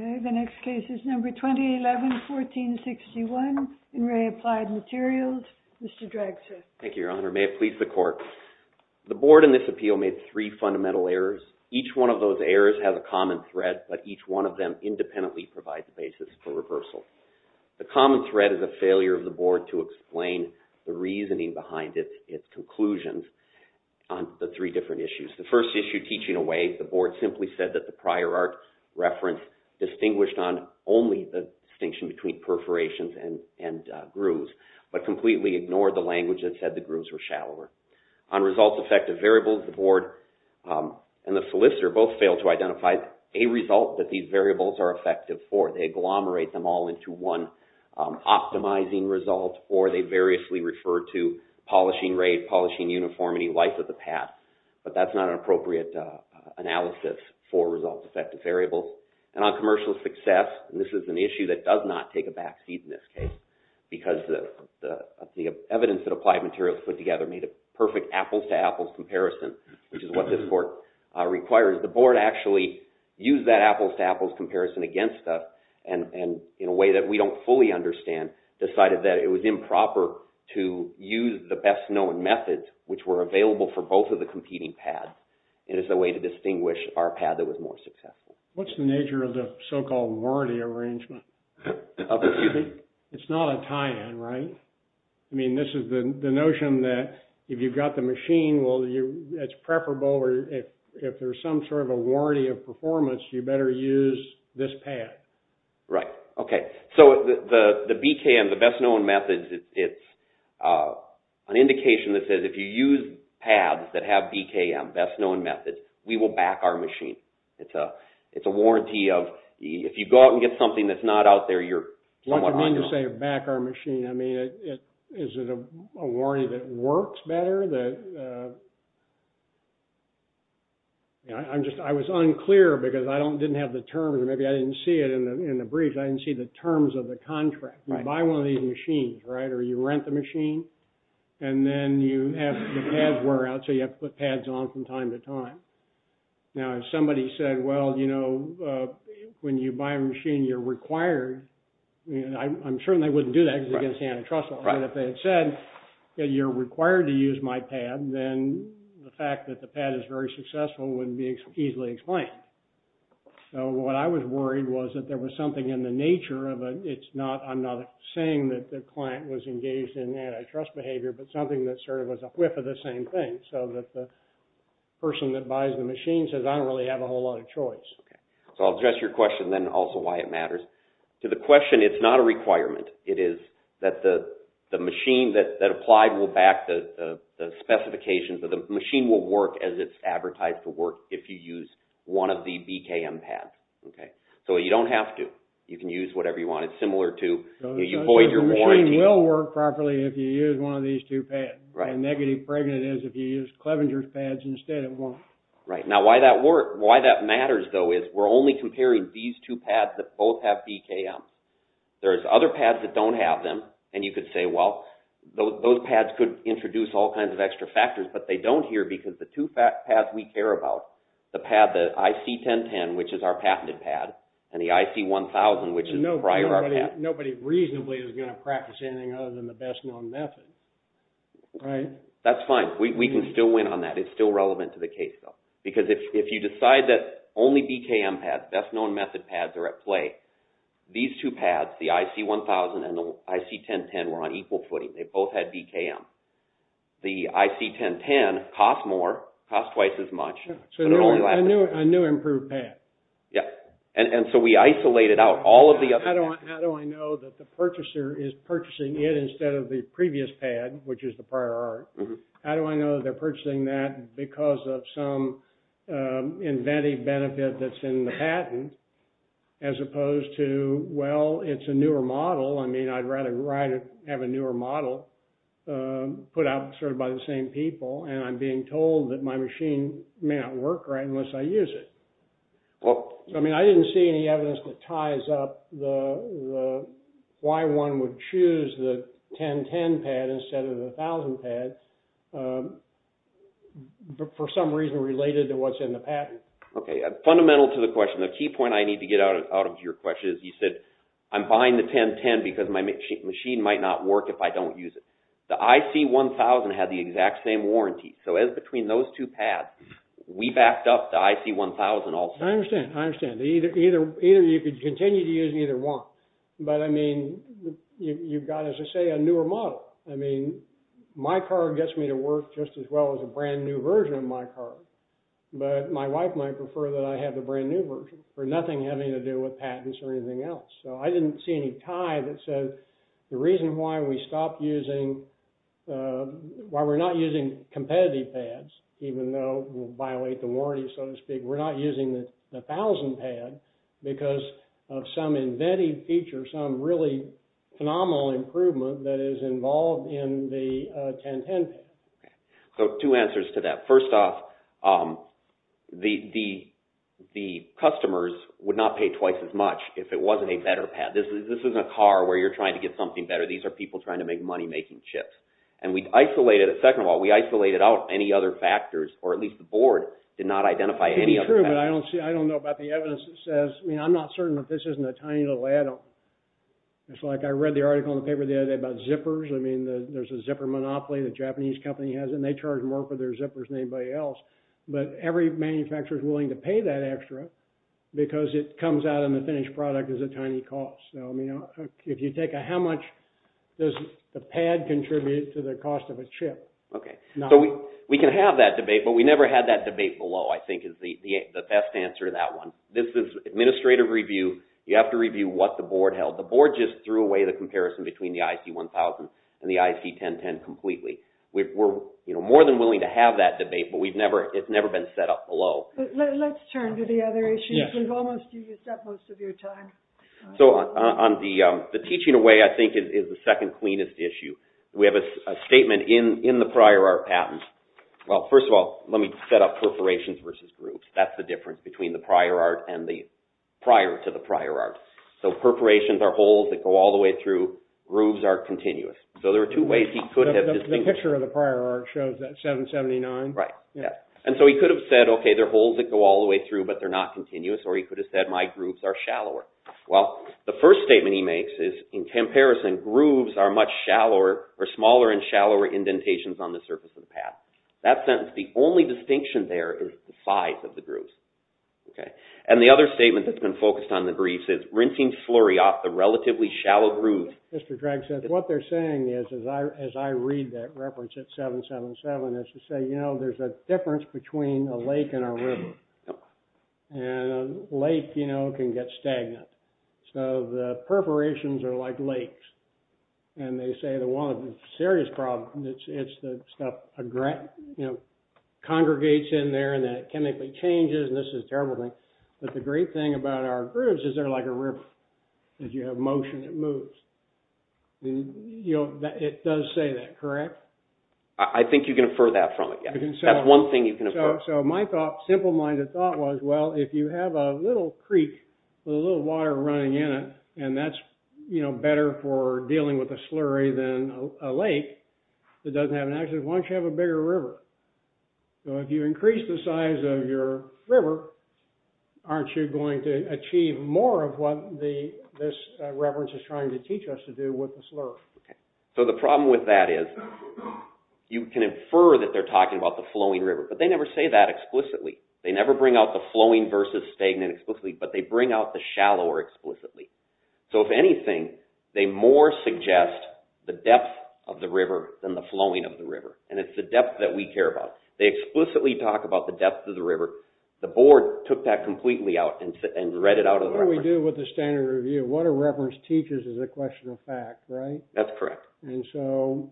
The next case is number 2011-1461, In Re Applied Materials, Mr. Draxler. Thank you, Your Honor. The board in this appeal made three fundamental errors. Each one of those errors has a common thread, but each one of them independently provides a basis for reversal. The common thread is a failure of the board to explain the reasoning behind its conclusions on the three different issues. The first issue, teaching away, the board simply said that the prior art reference distinguished on only the distinction between perforations and grooves, but completely ignored the language that said the grooves were shallower. On results-effective variables, the board and the solicitor both failed to identify a result that these variables are effective for. They agglomerate them all into one optimizing result, or they variously refer to polishing rate, polishing uniformity, life of the pad, but that's not an appropriate analysis for results-effective variables. And on commercial success, and this is an issue that does not take a backseat in this case, because the evidence that applied materials put together made a perfect apples-to-apples comparison, which is what this court requires. The board actually used that apples-to-apples comparison against us, and in a way that we don't fully understand, decided that it was improper to use the best-known methods which were available for both of the competing pads, and as a way to distinguish our pad that was more successful. What's the nature of the so-called warranty arrangement? It's not a tie-in, right? I mean, this is the notion that if you've got the machine, it's preferable, or if there's some sort of a warranty of performance, you better use this pad. Right. Okay. So the BKM, the best-known methods, it's an indication that says if you use pads that have BKM, best-known methods, we will back our machine. It's a warranty of, if you go out and get something that's not out there, you're somewhat on your own. What do you mean to say, back our machine? I mean, is it a warranty that works better? I was unclear, because I didn't have the terms, or maybe I didn't see it in the brief, I didn't see the terms of the contract. Right. You buy one of these machines, right? Or you rent the machine, and then you have the pads wear out, so you have to put pads on from time to time. Now, if somebody said, well, you know, when you buy a machine, you're required, I'm sure they wouldn't do that, because it's against the antitrust law. Right. If they had said that you're required to use my pad, then the fact that the pad is very successful wouldn't be easily explained. So what I was worried was that there was something in the nature of a, it's not, I'm not saying that the client was engaged in antitrust behavior, but something that sort of was a whiff of the same thing, so that the person that buys the machine says, I don't really have a whole lot of choice. Okay. So I'll address your question, then, also why it matters. To the question, it's not a requirement. It is that the machine that applied will back the specifications, or the machine will work as it's advertised to work if you use one of the BKM pads. Okay? So you don't have to. You can use whatever you want. It's similar to, you void your warranty. So the machine will work properly if you use one of these two pads. Right. And negative, pregnant is, if you use Clevenger's pads instead, it won't. Right. Now, why that matters, though, is we're only comparing these two pads that both have BKM. There's other pads that don't have them, and you could say, well, those pads could introduce all kinds of extra factors, but they don't here, because the two pads we care about, the pad, the IC1010, which is our patented pad, and the IC1000, which is the prior pad. Nobody reasonably is going to practice anything other than the best-known method, right? That's fine. We can still win on that. It's still relevant to the case, though. Because if you decide that only BKM pads, best-known method pads, are at play, these two pads, the IC1000 and the IC1010, were on equal footing. They both had BKM. The IC1010 cost more, cost twice as much, but it only lasted. So a new improved pad. Yeah. And so we isolated out all of the other things. How do I know that the purchaser is purchasing it instead of the previous pad, which is the prior art? How do I know they're purchasing that because of some inventive benefit that's in the patent, as opposed to, well, it's a newer model. I mean, I'd rather have a newer model put out by the same people, and I'm being told that my machine may not work right unless I use it. I mean, I didn't see any evidence that ties up why one would choose the 1010 pad instead of the 1000 pad, for some reason related to what's in the patent. Okay. Fundamental to the question. The key point I need to get out of your question is, you said, I'm buying the 1010 because my machine might not work if I don't use it. The IC1000 had the exact same warranty. So as between those two pads, we backed up the IC1000 also. I understand. I understand. Either you could continue to use either one, but I mean, you've got, as I say, a newer model. I mean, my car gets me to work just as well as a brand new version of my car, but my wife might prefer that I have the brand new version for nothing having to do with patents or anything else. So I didn't see any tie that says the reason why we stopped using, why we're not using competitive pads, even though we'll violate the warranty, so to speak, we're not using the 1000 pad because of some embedded feature, some really phenomenal improvement that is involved in the 1010 pad. Okay. So two answers to that. First off, the customers would not pay twice as much if it wasn't a better pad. This isn't a car where you're trying to get something better. These are people trying to make money making chips. And we isolated, second of all, we isolated out any other factors, or at least the board did not identify any other factors. It's true, but I don't see, I don't know about the evidence that says, I mean, I'm not certain that this isn't a tiny little add-on. It's like I read the article in the paper the other day about zippers. I mean, there's a zipper monopoly that a Japanese company has, and they charge more for their than anybody else, but every manufacturer is willing to pay that extra because it comes out in the finished product as a tiny cost. So, I mean, if you take a, how much does the pad contribute to the cost of a chip? Okay. So we can have that debate, but we never had that debate below, I think, is the best answer to that one. This is administrative review. You have to review what the board held. The board just threw away the comparison between the IC1000 and the IC1010 completely. We're, you know, more than willing to have that debate, but we've never, it's never been set up below. Let's turn to the other issues. We've almost used up most of your time. So on the teaching away, I think, is the second cleanest issue. We have a statement in the prior art patent, well, first of all, let me set up perforations versus grooves. That's the difference between the prior art and the, prior to the prior art. So perforations are holes that go all the way through. Grooves are continuous. So there are two ways he could have distinguished. The picture of the prior art shows that, 779. Right. Yeah. And so he could have said, okay, there are holes that go all the way through, but they're not continuous. Or he could have said, my grooves are shallower. Well, the first statement he makes is, in comparison, grooves are much shallower, or smaller and shallower indentations on the surface of the pad. That sentence, the only distinction there is the size of the grooves. Okay. And the other statement that's been focused on the grooves is, rinsing flurry off the relatively shallow grooves. Mr. Drexler, what they're saying is, as I read that reference at 777, it's to say, you know, there's a difference between a lake and a river. And a lake, you know, can get stagnant. So the perforations are like lakes. And they say the one serious problem, it's the stuff, you know, congregates in there and then it chemically changes, and this is a terrible thing, but the great thing about our grooves is they're like a river, as you have motion, it moves. It does say that, correct? I think you can infer that from it, yeah. That's one thing you can infer. So my thought, simple-minded thought was, well, if you have a little creek with a little water running in it, and that's, you know, better for dealing with a slurry than a lake that doesn't have an action, why don't you have a bigger river? So if you increase the size of your river, aren't you going to achieve more of what this reference is trying to teach us to do with the slurry? So the problem with that is, you can infer that they're talking about the flowing river, but they never say that explicitly. They never bring out the flowing versus stagnant explicitly, but they bring out the shallower explicitly. So if anything, they more suggest the depth of the river than the flowing of the river. And it's the depth that we care about. They explicitly talk about the depth of the river. The board took that completely out and read it out of the reference. What do we do with the standard review? What a reference teaches is a question of fact, right? That's correct. And so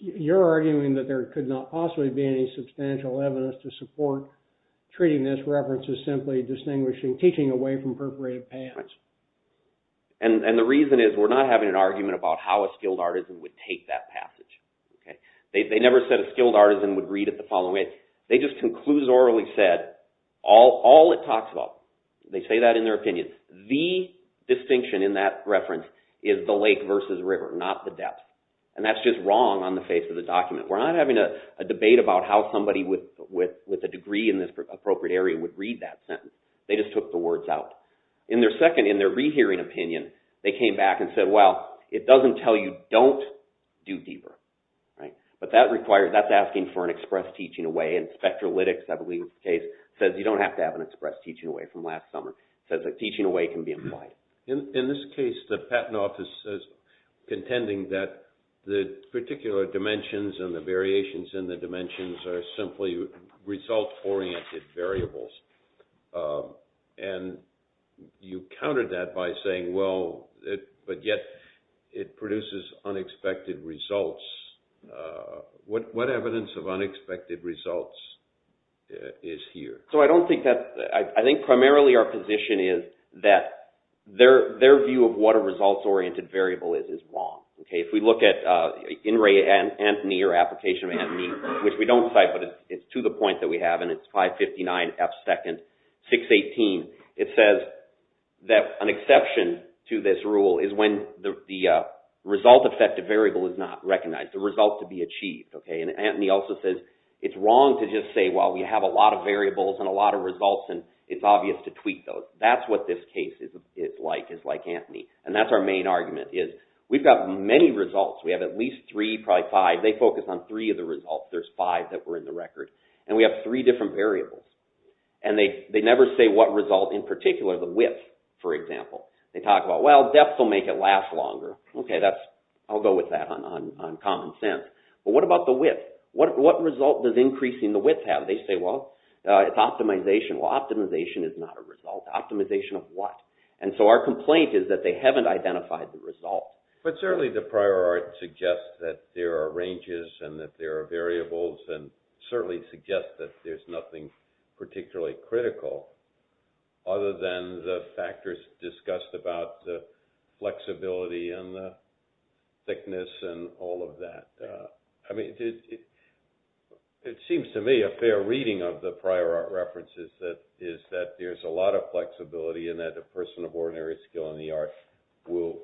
you're arguing that there could not possibly be any substantial evidence to support treating this reference as simply distinguishing, teaching away from perforated paths. And the reason is, we're not having an argument about how a skilled artisan would take that passage. They never said a skilled artisan would read it the following way. They just conclusorily said, all it talks about, they say that in their opinion, the distinction in that reference is the lake versus river, not the depth. And that's just wrong on the face of the document. We're not having a debate about how somebody with a degree in this appropriate area would read that sentence. They just took the words out. In their second, in their rehearing opinion, they came back and said, well, it doesn't tell you, don't do deeper, right? But that requires, that's asking for an express teaching away, and Spectralytics, I believe, says you don't have to have an express teaching away from last summer. It says a teaching away can be implied. In this case, the patent office is contending that the particular dimensions and the variations in the dimensions are simply result-oriented variables. And you countered that by saying, well, but yet it produces unexpected results. What evidence of unexpected results is here? So I don't think that, I think primarily our position is that their view of what a result-oriented variable is, is wrong. Okay, if we look at In Re Antony, or Application of Antony, which we don't cite, but it's to the point that we have, and it's 559F2nd618, it says that an exception to this rule is when the result-effective variable is not recognized, the result to be achieved. And Antony also says it's wrong to just say, well, we have a lot of variables and a lot of results, and it's obvious to tweak those. That's what this case is like, is like Antony. And that's our main argument, is we've got many results. We have at least three, probably five. They focus on three of the results. There's five that were in the record. And we have three different variables. And they never say what result in particular, the width, for example. They talk about, well, depth will make it last longer. Okay, that's, I'll go with that on common sense. But what about the width? What result does increasing the width have? They say, well, it's optimization. Well, optimization is not a result. Optimization of what? And so our complaint is that they haven't identified the result. But certainly the prior art suggests that there are ranges and that there are variables and certainly suggests that there's nothing particularly critical other than the factors discussed about the flexibility and the thickness and all of that. I mean, it seems to me a fair reading of the prior art references is that there's a lot of flexibility and that a person of ordinary skill in the art will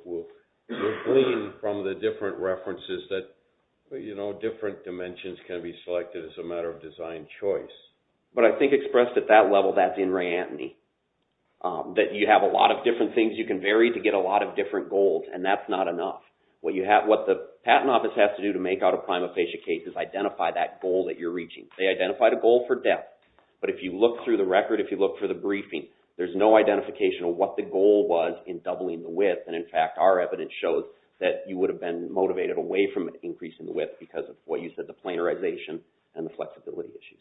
glean from the different references that, you know, different dimensions can be selected as a matter of design choice. But I think expressed at that level, that's in re-entity. That you have a lot of different things you can vary to get a lot of different goals. And that's not enough. What the patent office has to do to make out a prima facie case is identify that goal that you're reaching. They identified a goal for depth. But if you look through the record, if you look for the briefing, there's no identification of what the goal was in doubling the width. And in fact, our evidence shows that you would have been motivated away from an increase in the width because of what you said, the planarization and the flexibility issues.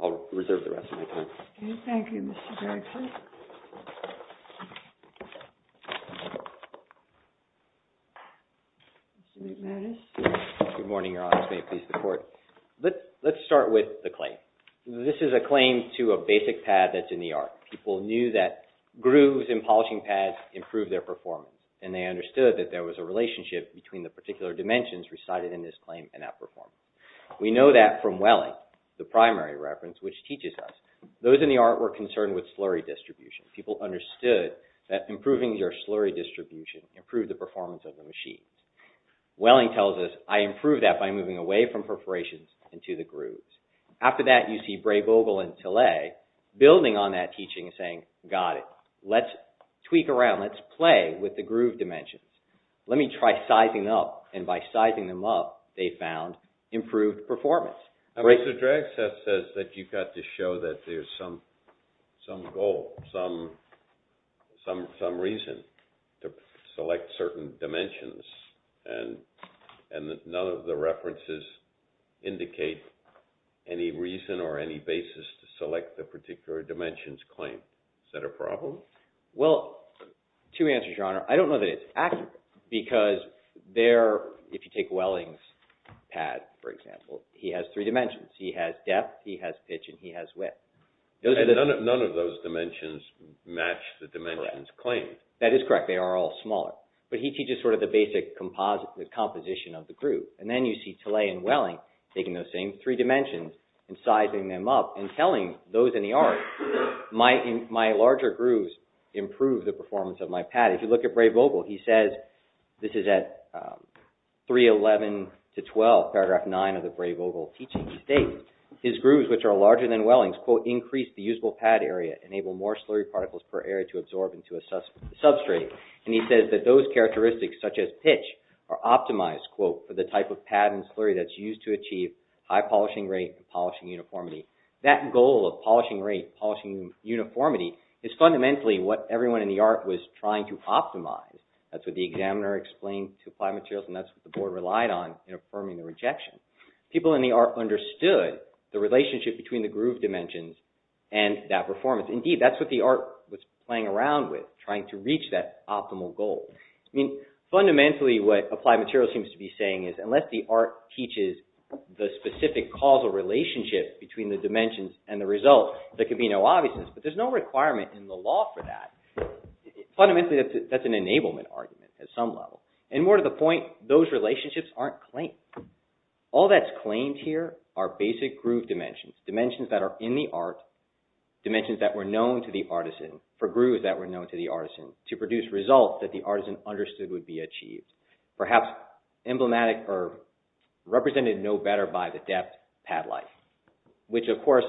I'll reserve the rest of my time. Okay. Thank you, Mr. Jackson. Mr. McManus. Good morning, Your Honor. May it please the Court. Let's start with the claim. This is a claim to a basic pad that's in the art. People knew that grooves in polishing pads improve their performance. And they understood that there was a relationship between the particular dimensions recited in this claim and that performance. We know that from Welling, the primary reference, which teaches us. Those in the art were concerned with slurry distribution. People understood that improving your slurry distribution improved the performance of the machines. Welling tells us, I improved that by moving away from perforations into the grooves. After that, you see Bray-Vogel and Tillet building on that teaching and saying, got it. Let's tweak around. Let's play with the groove dimensions. Let me try sizing up. And by sizing them up, they found improved performance. Mr. Dragstead says that you've got to show that there's some goal, some reason to select certain dimensions. And none of the references indicate any reason or any basis to select the particular dimensions claim. Is that a problem? Well, two answers, Your Honor. I don't know that it's accurate because there, if you take Welling's pad, for example, he has three dimensions. He has depth. He has pitch. And he has width. And none of those dimensions match the dimensions claim. That is correct. They are all smaller. But he teaches sort of the basic composition of the groove. And then you see Tillet and Welling taking those same three dimensions and sizing them up and telling those in the art, my larger grooves improve the performance of my pad. If you look at Bray-Vogel, he says, this is at 311 to 12, paragraph 9 of the Bray-Vogel teaching. He states, his grooves, which are larger than Welling's, quote, increase the usable pad area, enable more slurry particles per area to absorb into a substrate. And he says that those characteristics, such as pitch, are optimized, quote, for the type of pad and slurry that's used to achieve high polishing rate and polishing uniformity. That goal of polishing rate, polishing uniformity, is fundamentally what everyone in the art was trying to optimize. That's what the examiner explained to apply materials. And that's what the board relied on in affirming the rejection. People in the art understood the relationship between the groove dimensions and that performance. Indeed, that's what the art was playing around with, trying to reach that optimal goal. Fundamentally, what applied materials seems to be saying is, unless the art teaches the specific causal relationship between the dimensions and the result, there can be no obviousness. But there's no requirement in the law for that. Fundamentally, that's an enablement argument at some level. And more to the point, those relationships aren't claimed. All that's claimed here are basic groove dimensions, dimensions that are in the art, dimensions that were known to the artisan, for grooves that were known to the artisan, to produce results that the artisan understood would be achieved. Perhaps emblematic or represented no better by the depth, pad life. Which, of course,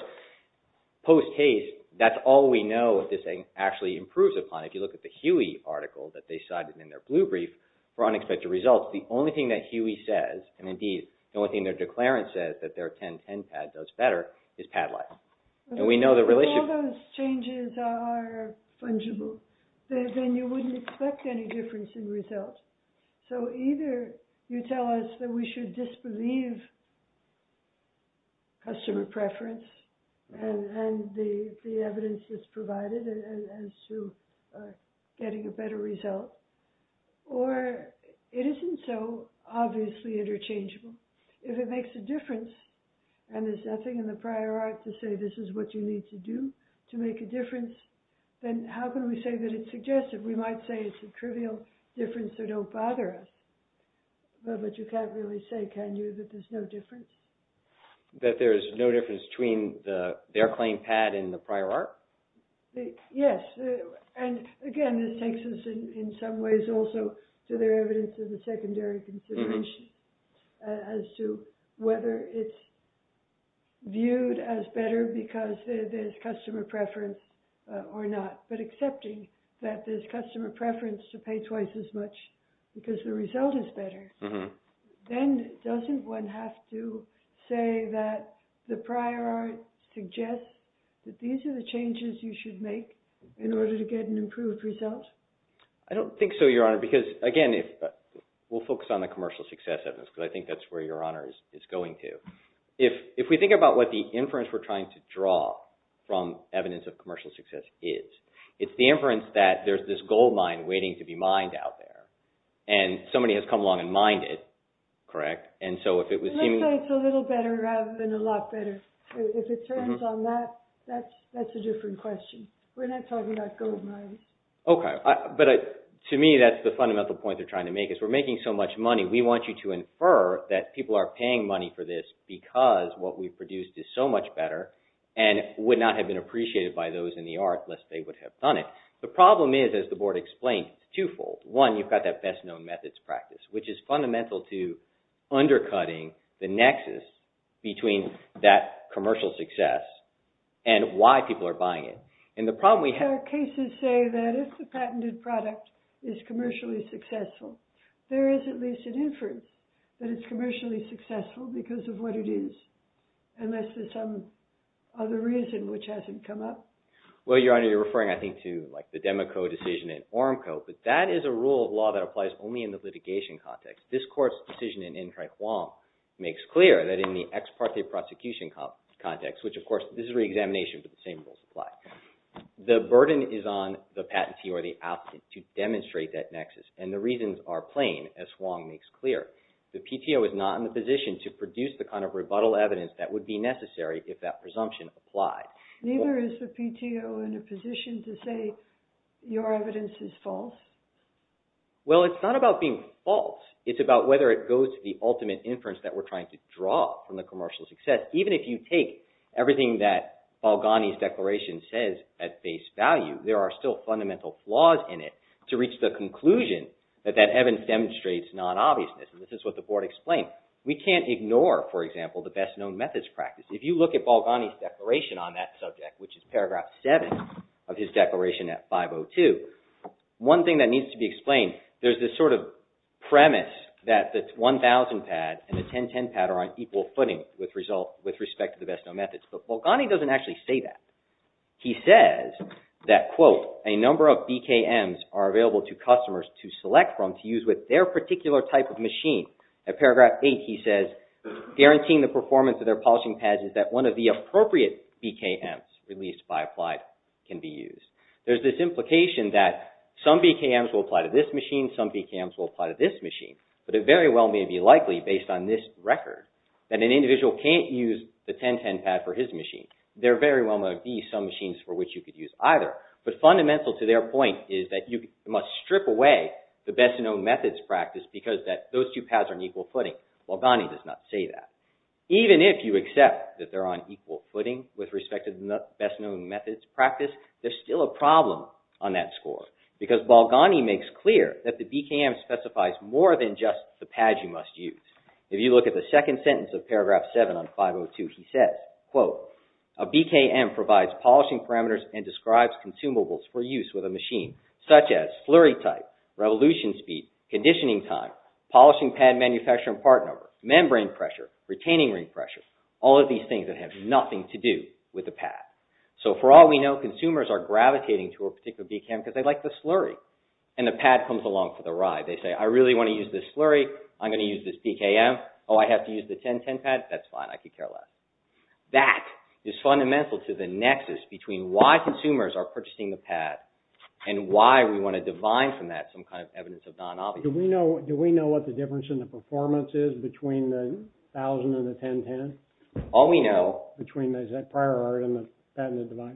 post-haste, that's all we know that this actually improves upon. If you look at the Huey article that they cited in their blue brief for unexpected results, the only thing that Huey says, and indeed, the only thing their declarant says that their 1010 pad does better, is pad life. If all those changes are fungible, then you wouldn't expect any difference in results. So either you tell us that we should disbelieve customer preference and the evidence that's provided as to getting a better result, or it isn't so obviously interchangeable. If it makes a difference, and there's nothing in the prior art to say this is what you need to do to make a difference, then how can we say that it's suggestive? We might say it's a trivial difference that don't bother us. But you can't really say, can you, that there's no difference? That there's no difference between their claimed pad and the prior art? Yes. Again, this takes us in some ways also to their evidence of the secondary consideration as to whether it's viewed as better because there's customer preference or not. But accepting that there's customer preference to pay twice as much because the result is better, then doesn't one have to say that the prior art suggests that these are the in order to get an improved result? I don't think so, Your Honor, because again, we'll focus on the commercial success evidence because I think that's where Your Honor is going to. If we think about what the inference we're trying to draw from evidence of commercial success is, it's the inference that there's this gold mine waiting to be mined out there, and somebody has come along and mined it, correct? And so if it was seeming... Let's say it's a little better rather than a lot better. If it turns on that, that's a different question. We're not talking about gold mines. Okay. But to me, that's the fundamental point they're trying to make is we're making so much money. We want you to infer that people are paying money for this because what we've produced is so much better and would not have been appreciated by those in the art lest they would have done it. The problem is, as the Board explained, twofold. One, you've got that best-known methods practice, which is fundamental to undercutting the nexus between that commercial success and why people are buying it. And the problem we have... But our cases say that if the patented product is commercially successful, there is at least an inference that it's commercially successful because of what it is, unless there's some other reason which hasn't come up. Well, Your Honor, you're referring, I think, to the Demaco decision in Ormco, but that is a rule of law that applies only in the litigation context. This court's decision in N. Tri Hwang makes clear that in the ex parte prosecution context, which, of course, this is reexamination, but the same rules apply. The burden is on the patentee or the applicant to demonstrate that nexus, and the reasons are plain, as Hwang makes clear. The PTO is not in a position to produce the kind of rebuttal evidence that would be necessary if that presumption applied. Neither is the PTO in a position to say your evidence is false? Well, it's not about being false. It's about whether it goes to the ultimate inference that we're trying to draw from the commercial success. Even if you take everything that Balgani's declaration says at face value, there are still fundamental flaws in it to reach the conclusion that that evidence demonstrates non-obviousness. And this is what the board explained. We can't ignore, for example, the best-known methods practice. If you look at Balgani's declaration on that subject, which is paragraph 7 of his declaration at 5.02, one thing that needs to be explained, there's this sort of premise that the 1000 pad and the 1010 pad are on equal footing with respect to the best-known methods. But Balgani doesn't actually say that. He says that, quote, a number of BKMs are available to customers to select from to use with their particular type of machine. At paragraph 8, he says, guaranteeing the performance of their polishing pads is that one of the appropriate BKMs released by applied can be used. There's this implication that some BKMs will apply to this machine, some BKMs will apply to this machine. But it very well may be likely, based on this record, that an individual can't use the 1010 pad for his machine. There very well may be some machines for which you could use either. But fundamental to their point is that you must strip away the best-known methods practice because those two pads are on equal footing. Balgani does not say that. Even if you accept that they're on equal footing with respect to the best-known methods practice, there's still a problem on that score because Balgani makes clear that the BKM specifies more than just the pad you must use. If you look at the second sentence of paragraph 7 on 502, he says, quote, a BKM provides polishing parameters and describes consumables for use with a machine such as flurry type, revolution speed, conditioning time, polishing pad manufacturing part number, membrane pressure, retaining ring pressure, all of these things that have nothing to do with the pad. So for all we know, consumers are gravitating to a particular BKM because they like the slurry, and the pad comes along for the ride. They say, I really want to use this slurry. I'm going to use this BKM. Oh, I have to use the 1010 pad? That's fine. I could care less. That is fundamental to the nexus between why consumers are purchasing the pad and why we want to divide from that some kind of evidence of non-obviousness. Do we know what the difference in the performance is between the 1000 and the 1010? All we know... Between the prior art and the patented device?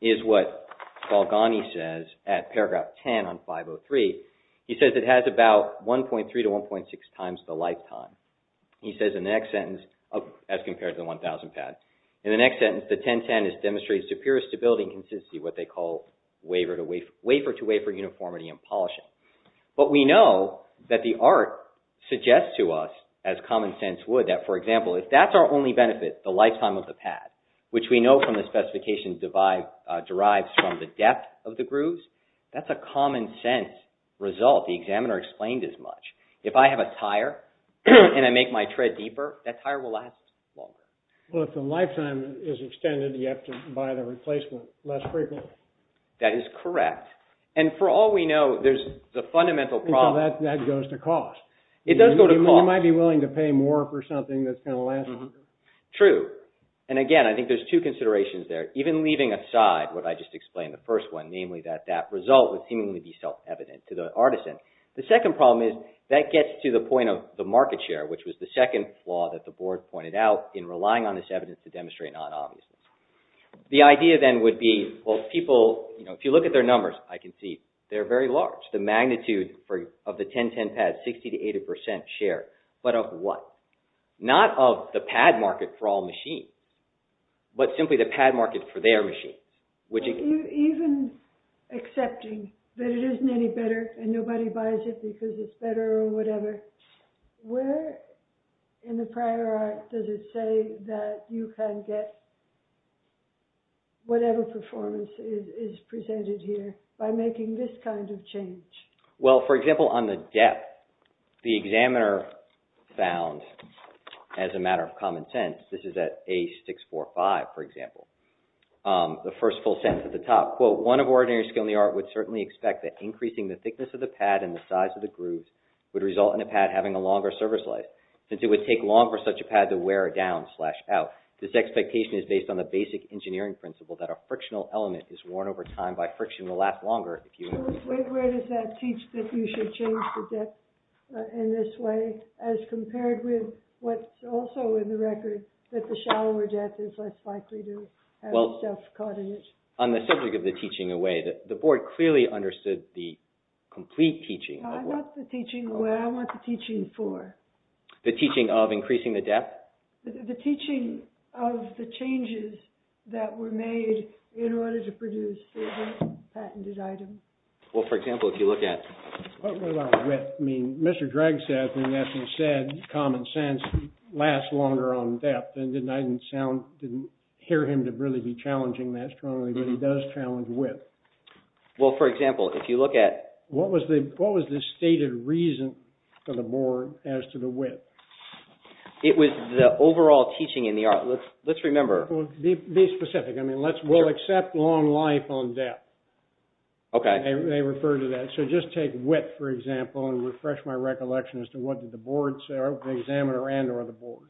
...is what Balgani says at paragraph 10 on 503. He says it has about 1.3 to 1.6 times the lifetime. He says in the next sentence, as compared to the 1000 pad, in the next sentence, the 1010 has demonstrated superior stability and consistency, what they call wafer-to-wafer uniformity in polishing. But we know that the art suggests to us, as common sense would, that, for example, if that's our only benefit, the lifetime of the pad, which we know from the specifications derives from the depth of the grooves, that's a common sense result. The examiner explained as much. If I have a tire and I make my tread deeper, that tire will last longer. Well, if the lifetime is extended, you have to buy the replacement less frequently. That is correct. And for all we know, there's the fundamental problem... That goes to cost. It does go to cost. You might be willing to pay more for something that's going to last longer. True. And again, I think there's two considerations there, even leaving aside what I just explained in the first one, namely that that result would seemingly be self-evident to the artisan. The second problem is, that gets to the point of the market share, which was the second flaw that the board pointed out in relying on this evidence to demonstrate non-obviousness. The idea then would be, well, people, if you look at their numbers, I can see they're very large. The magnitude of the 1010 pads, 60-80% share. But of what? Not of the pad market for all machines, but simply the pad market for their machines. Even accepting that it isn't any better and nobody buys it because it's better or whatever, where in the prior art does it say that you can get whatever performance is presented here by making this kind of change? Well, for example, on the depth, the examiner found, as a matter of common sense, this is at A645, for example, the first full sentence at the top, quote, one of ordinary skill in the art would certainly expect that increasing the thickness of the pad and the size of the grooves would result in a pad having a longer service life, since it would take long for such a pad to wear down slash out. This expectation is based on the basic engineering principle that a frictional element is worn over time and by friction will last longer. So where does that teach that you should change the depth in this way as compared with what's also in the record, that the shallower depth is less likely to have stuff caught in it? On the subject of the teaching away, the board clearly understood the complete teaching. I want the teaching away. I want the teaching for. The teaching of increasing the depth? The teaching of the changes that were made in order to produce the patented item. Well, for example, if you look at. What about width? I mean, Mr. Drag said, I mean, as he said, common sense lasts longer on depth. And I didn't sound, didn't hear him to really be challenging that strongly, but he does challenge width. Well, for example, if you look at. What was the stated reason for the board as to the width? It was the overall teaching in the art. Let's remember. Be specific. I mean, we'll accept long life on depth. Okay. They refer to that. So just take width, for example, and refresh my recollection as to what did the board say, the examiner and or the board.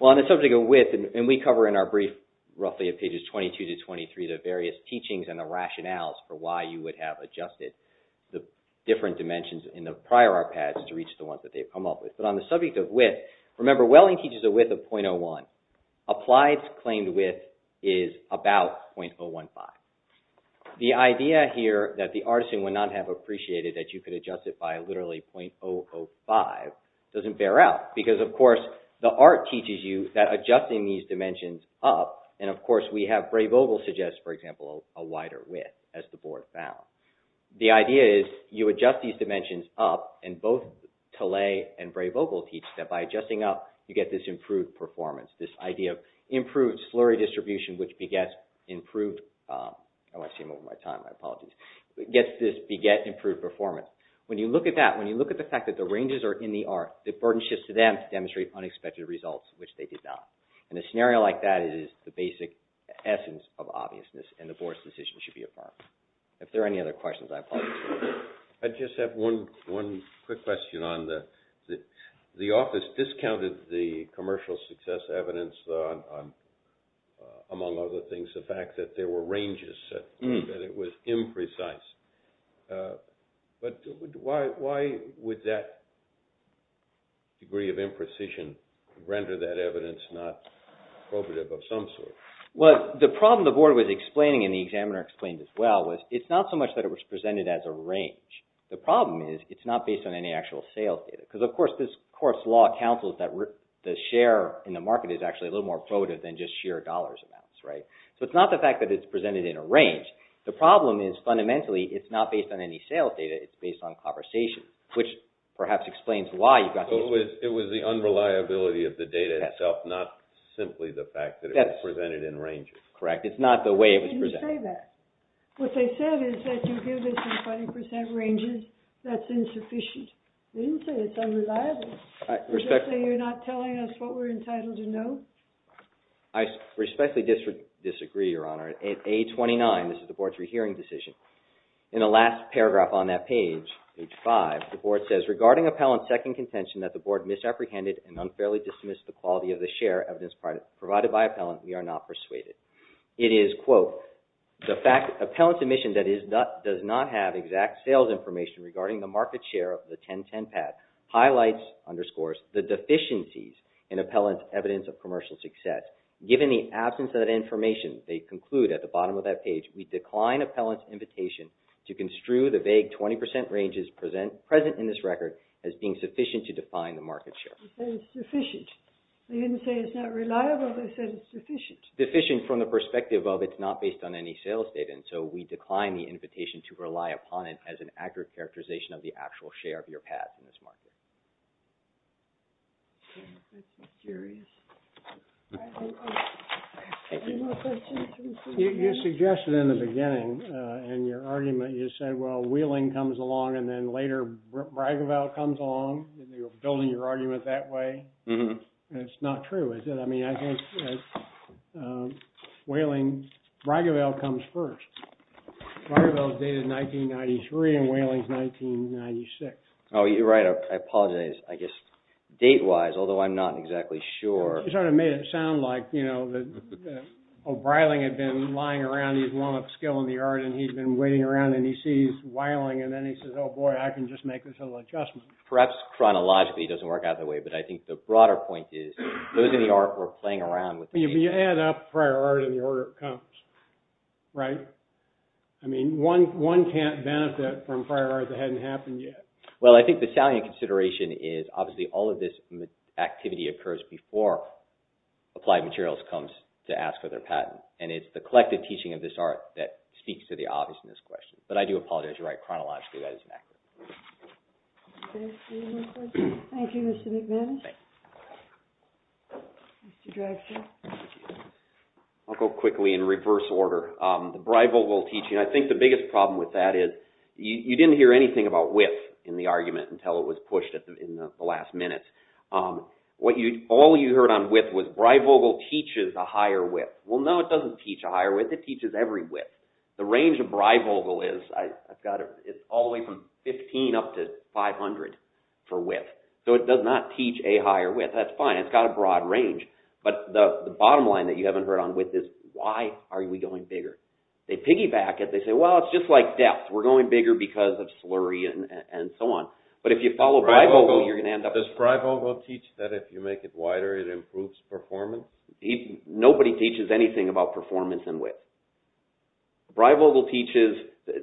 Well, on the subject of width, and we cover in our brief roughly at pages 22 to 23, the various teachings and the rationales for why you would have adjusted the different dimensions in the prior art pads to reach the ones that they've come up with. But on the subject of width, remember, Welling teaches a width of 0.01. Applied claimed width is about 0.015. The idea here that the artisan would not have appreciated that you could adjust it by literally 0.005 doesn't bear out because, of course, the art teaches you that adjusting these dimensions up, and, of course, we have Bray-Vogel suggests, for example, a wider width, as the board found. The idea is you adjust these dimensions up and both Talay and Bray-Vogel teach that by adjusting up, you get this improved performance, this idea of improved slurry distribution, which begets improved... Oh, I seem over my time. My apologies. It gets this beget improved performance. When you look at that, when you look at the fact that the ranges are in the art, the burden shifts to them to demonstrate unexpected results, which they did not. In a scenario like that, it is the basic essence of obviousness, and the board's decision should be affirmed. If there are any other questions, I apologize for that. I just have one quick question on the... The office discounted the commercial success evidence, among other things, the fact that there were ranges, that it was imprecise. But why would that degree of imprecision render that evidence not appropriate of some sort? Well, the problem the board was explaining and the examiner explained as well was it's not so much that it was presented as a range. The problem is it's not based on any actual sales data, because, of course, law counsels that the share in the market is actually a little more probative than just sheer dollars amounts, right? So it's not the fact that it's presented in a range. The problem is, fundamentally, it's not based on any sales data, it's based on conversation, which perhaps explains why you've got... It was the unreliability of the data itself, not simply the fact that it was presented in ranges. Correct. It's not the way it was presented. They didn't say that. What they said is that you give this in 20% ranges, that's insufficient. They didn't say it's unreliable. They didn't say you're not telling us what we're entitled to know? I respectfully disagree, Your Honor. At page 29, this is the board's rehearing decision, in the last paragraph on that page, page 5, the board says, Regarding appellant's second contention that the board misapprehended and unfairly dismissed the quality of the share evidence provided by appellant, we are not persuaded. It is, quote, the fact that appellant's admission does not have exact sales information regarding the market share of the 1010 pad, highlights, underscores, the deficiencies in appellant's evidence of commercial success. Given the absence of that information, they conclude, at the bottom of that page, we decline appellant's invitation to construe the vague 20% ranges present in this record as being sufficient to define the market share. They say it's sufficient. They didn't say it's not reliable. They said it's sufficient. Deficient from the perspective of it's not based on any sales data, and so we decline the invitation to rely upon it as an accurate characterization of the actual share of your pad in this market. I'm curious. Any more questions? You suggested in the beginning, in your argument, you said, well, Wheeling comes along and then later Bragavel comes along. You're building your argument that way. It's not true, is it? I mean, I think, Bragavel comes first. Bragavel is dated 1993 and Wheeling is 1996. Oh, you're right. I apologize. I guess, date-wise, although I'm not exactly sure. You sort of made it sound like, you know, that O'Brien had been lying around and he's one up skill in the art and he's been waiting around and he sees Wheeling and then he says, oh boy, I can just make this little adjustment. Perhaps chronologically it doesn't work out that way, but I think the broader point is those in the art were playing around with the... You add up prior art in the order it comes, right? I mean, one can't benefit from prior art that hadn't happened yet. Well, I think the salient consideration is, obviously, all of this activity occurs before Applied Materials comes to ask for their patent. And it's the collective teaching of this art that speaks to the obvious in this question. But I do apologize. You're right, chronologically that isn't accurate. Okay. Any more questions? Thank you, Mr. McManus. Thank you. Mr. Drexel. Thank you. I'll go quickly in reverse order. The Breivogel teaching, I think the biggest problem with that is you didn't hear anything about width in the argument until it was pushed in the last minute. All you heard on width was Breivogel teaches a higher width. Well, no, it doesn't teach a higher width. It teaches every width. The range of Breivogel is all the way from 15 up to 500 for width. So it does not teach a higher width. That's fine. It's got a broad range. But the bottom line that you haven't heard on width is why are we going bigger? They piggyback it. They say, well, it's just like depth. We're going bigger because of slurry and so on. But if you follow Breivogel, you're going to end up... Does Breivogel teach that if you make it wider it improves performance? Nobody teaches anything about performance and width. Breivogel teaches,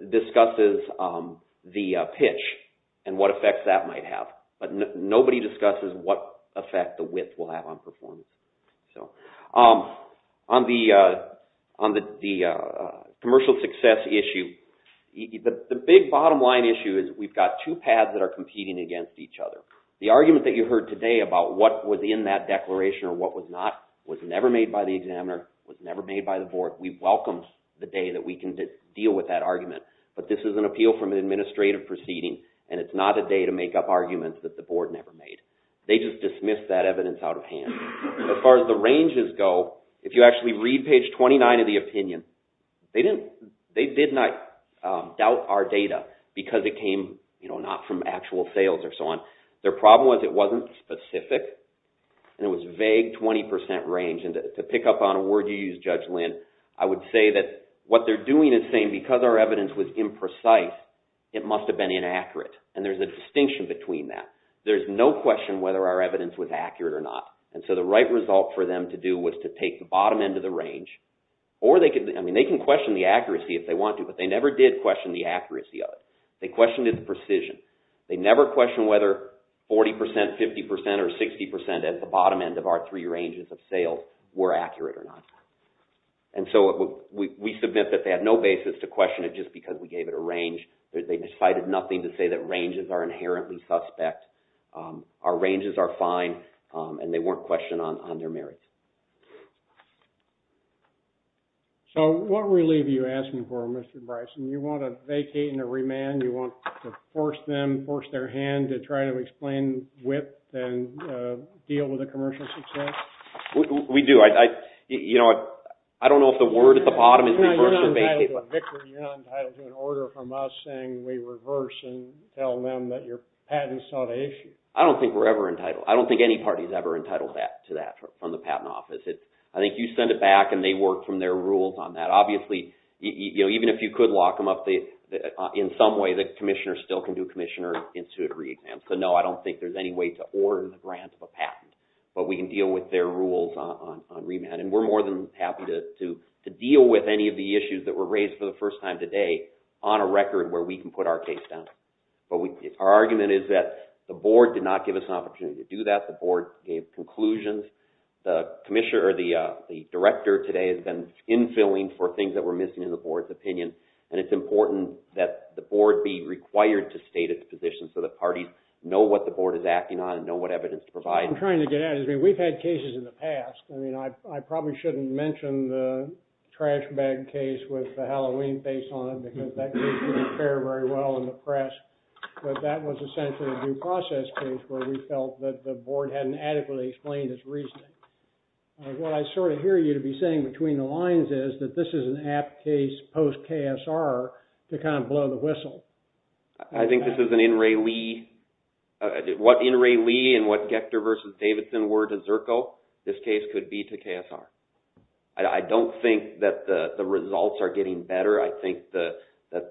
discusses the pitch and what effects that might have. But nobody discusses what effect the width will have on performance. On the commercial success issue, the big bottom line issue is we've got two pads that are competing against each other. The argument that you heard today about what was in that declaration or what was not, was never made by the examiner, was never made by the board. We welcomed the day that we can deal with that argument. But this is an appeal from an administrative proceeding and it's not a day to make up arguments that the board never made. They just dismissed that evidence out of hand. As far as the ranges go, if you actually read page 29 of the opinion, they did not doubt our data because it came not from actual sales or so on. Their problem was it wasn't specific and it was vague 20% range. And to pick up on a word you used, Judge Lynn, I would say that what they're doing is saying because our evidence was imprecise it must have been inaccurate. And there's a distinction between that. There's no question whether our evidence was accurate or not. And so the right result for them to do was to take the bottom end of the range or they could, I mean they can question the accuracy if they want to but they never did question the accuracy of it. They questioned its precision. They never questioned whether 40%, 50% or 60% at the bottom end of our three ranges of sales were accurate or not. And so we submit that they had no basis to question it just because we gave it a range. They decided nothing to say that ranges are inherently suspect. Our ranges are fine and they weren't questioned on their merits. So what relief are you asking for, Mr. Bryson? You want to vacate and to remand? You want to force them, force their hand to try to explain width and deal with the commercial success? We do. You know, I don't know if the word at the bottom is reverse or vacate. You're not entitled to a victory. You're not entitled to an order from us saying we reverse and tell them that your patent is not an issue. I don't think we're ever entitled. I don't think any party is ever entitled to that from the patent office. I think you send it back and they work from their rules on that. Obviously, even if you could lock them up in some way, the commissioner still can do commissioner-institute re-exams. So no, I don't think there's any way to order the grant of a patent. But we can deal with their rules on remand and we're more than happy to deal with any of the issues that were raised for the first time today on a record where we can put our case down. Our argument is that the board did not give us an opportunity to do that. The board gave conclusions. The director today has been infilling for things that were missing in the board's opinion and it's important that the board be required to state its position so that parties know what the board is acting on and know what evidence to provide. I'm trying to get at it. We've had cases in the past. I probably shouldn't mention the trash bag case with the Halloween based on it because that case didn't fare very well in the press. But that was essentially a due process case where we felt that the board hadn't adequately explained its reasoning. What I sort of hear you to be saying between the lines is that this is an apt case post-KSR to kind of blow the whistle. I think this is an N. Ray Lee. What N. Ray Lee and what Gector versus Davidson were to Zerko, this case could be to KSR. I don't think that the results are getting better. I think that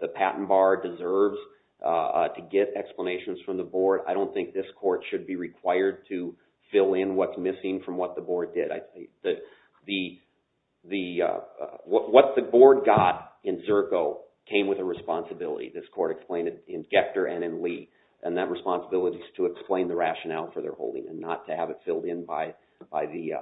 the patent bar deserves to get explanations from the board. I don't think this court should be required to fill in what's missing from what the board did. What the board got in Zerko came with a responsibility. This court explained it in Gector and in Lee. And that responsibility is to explain the rationale for their holding and not to have it filled in by the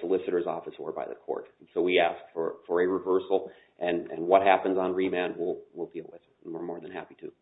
solicitor's office or by the court. So we asked for a reversal and what happens on remand we'll deal with and we're more than happy to.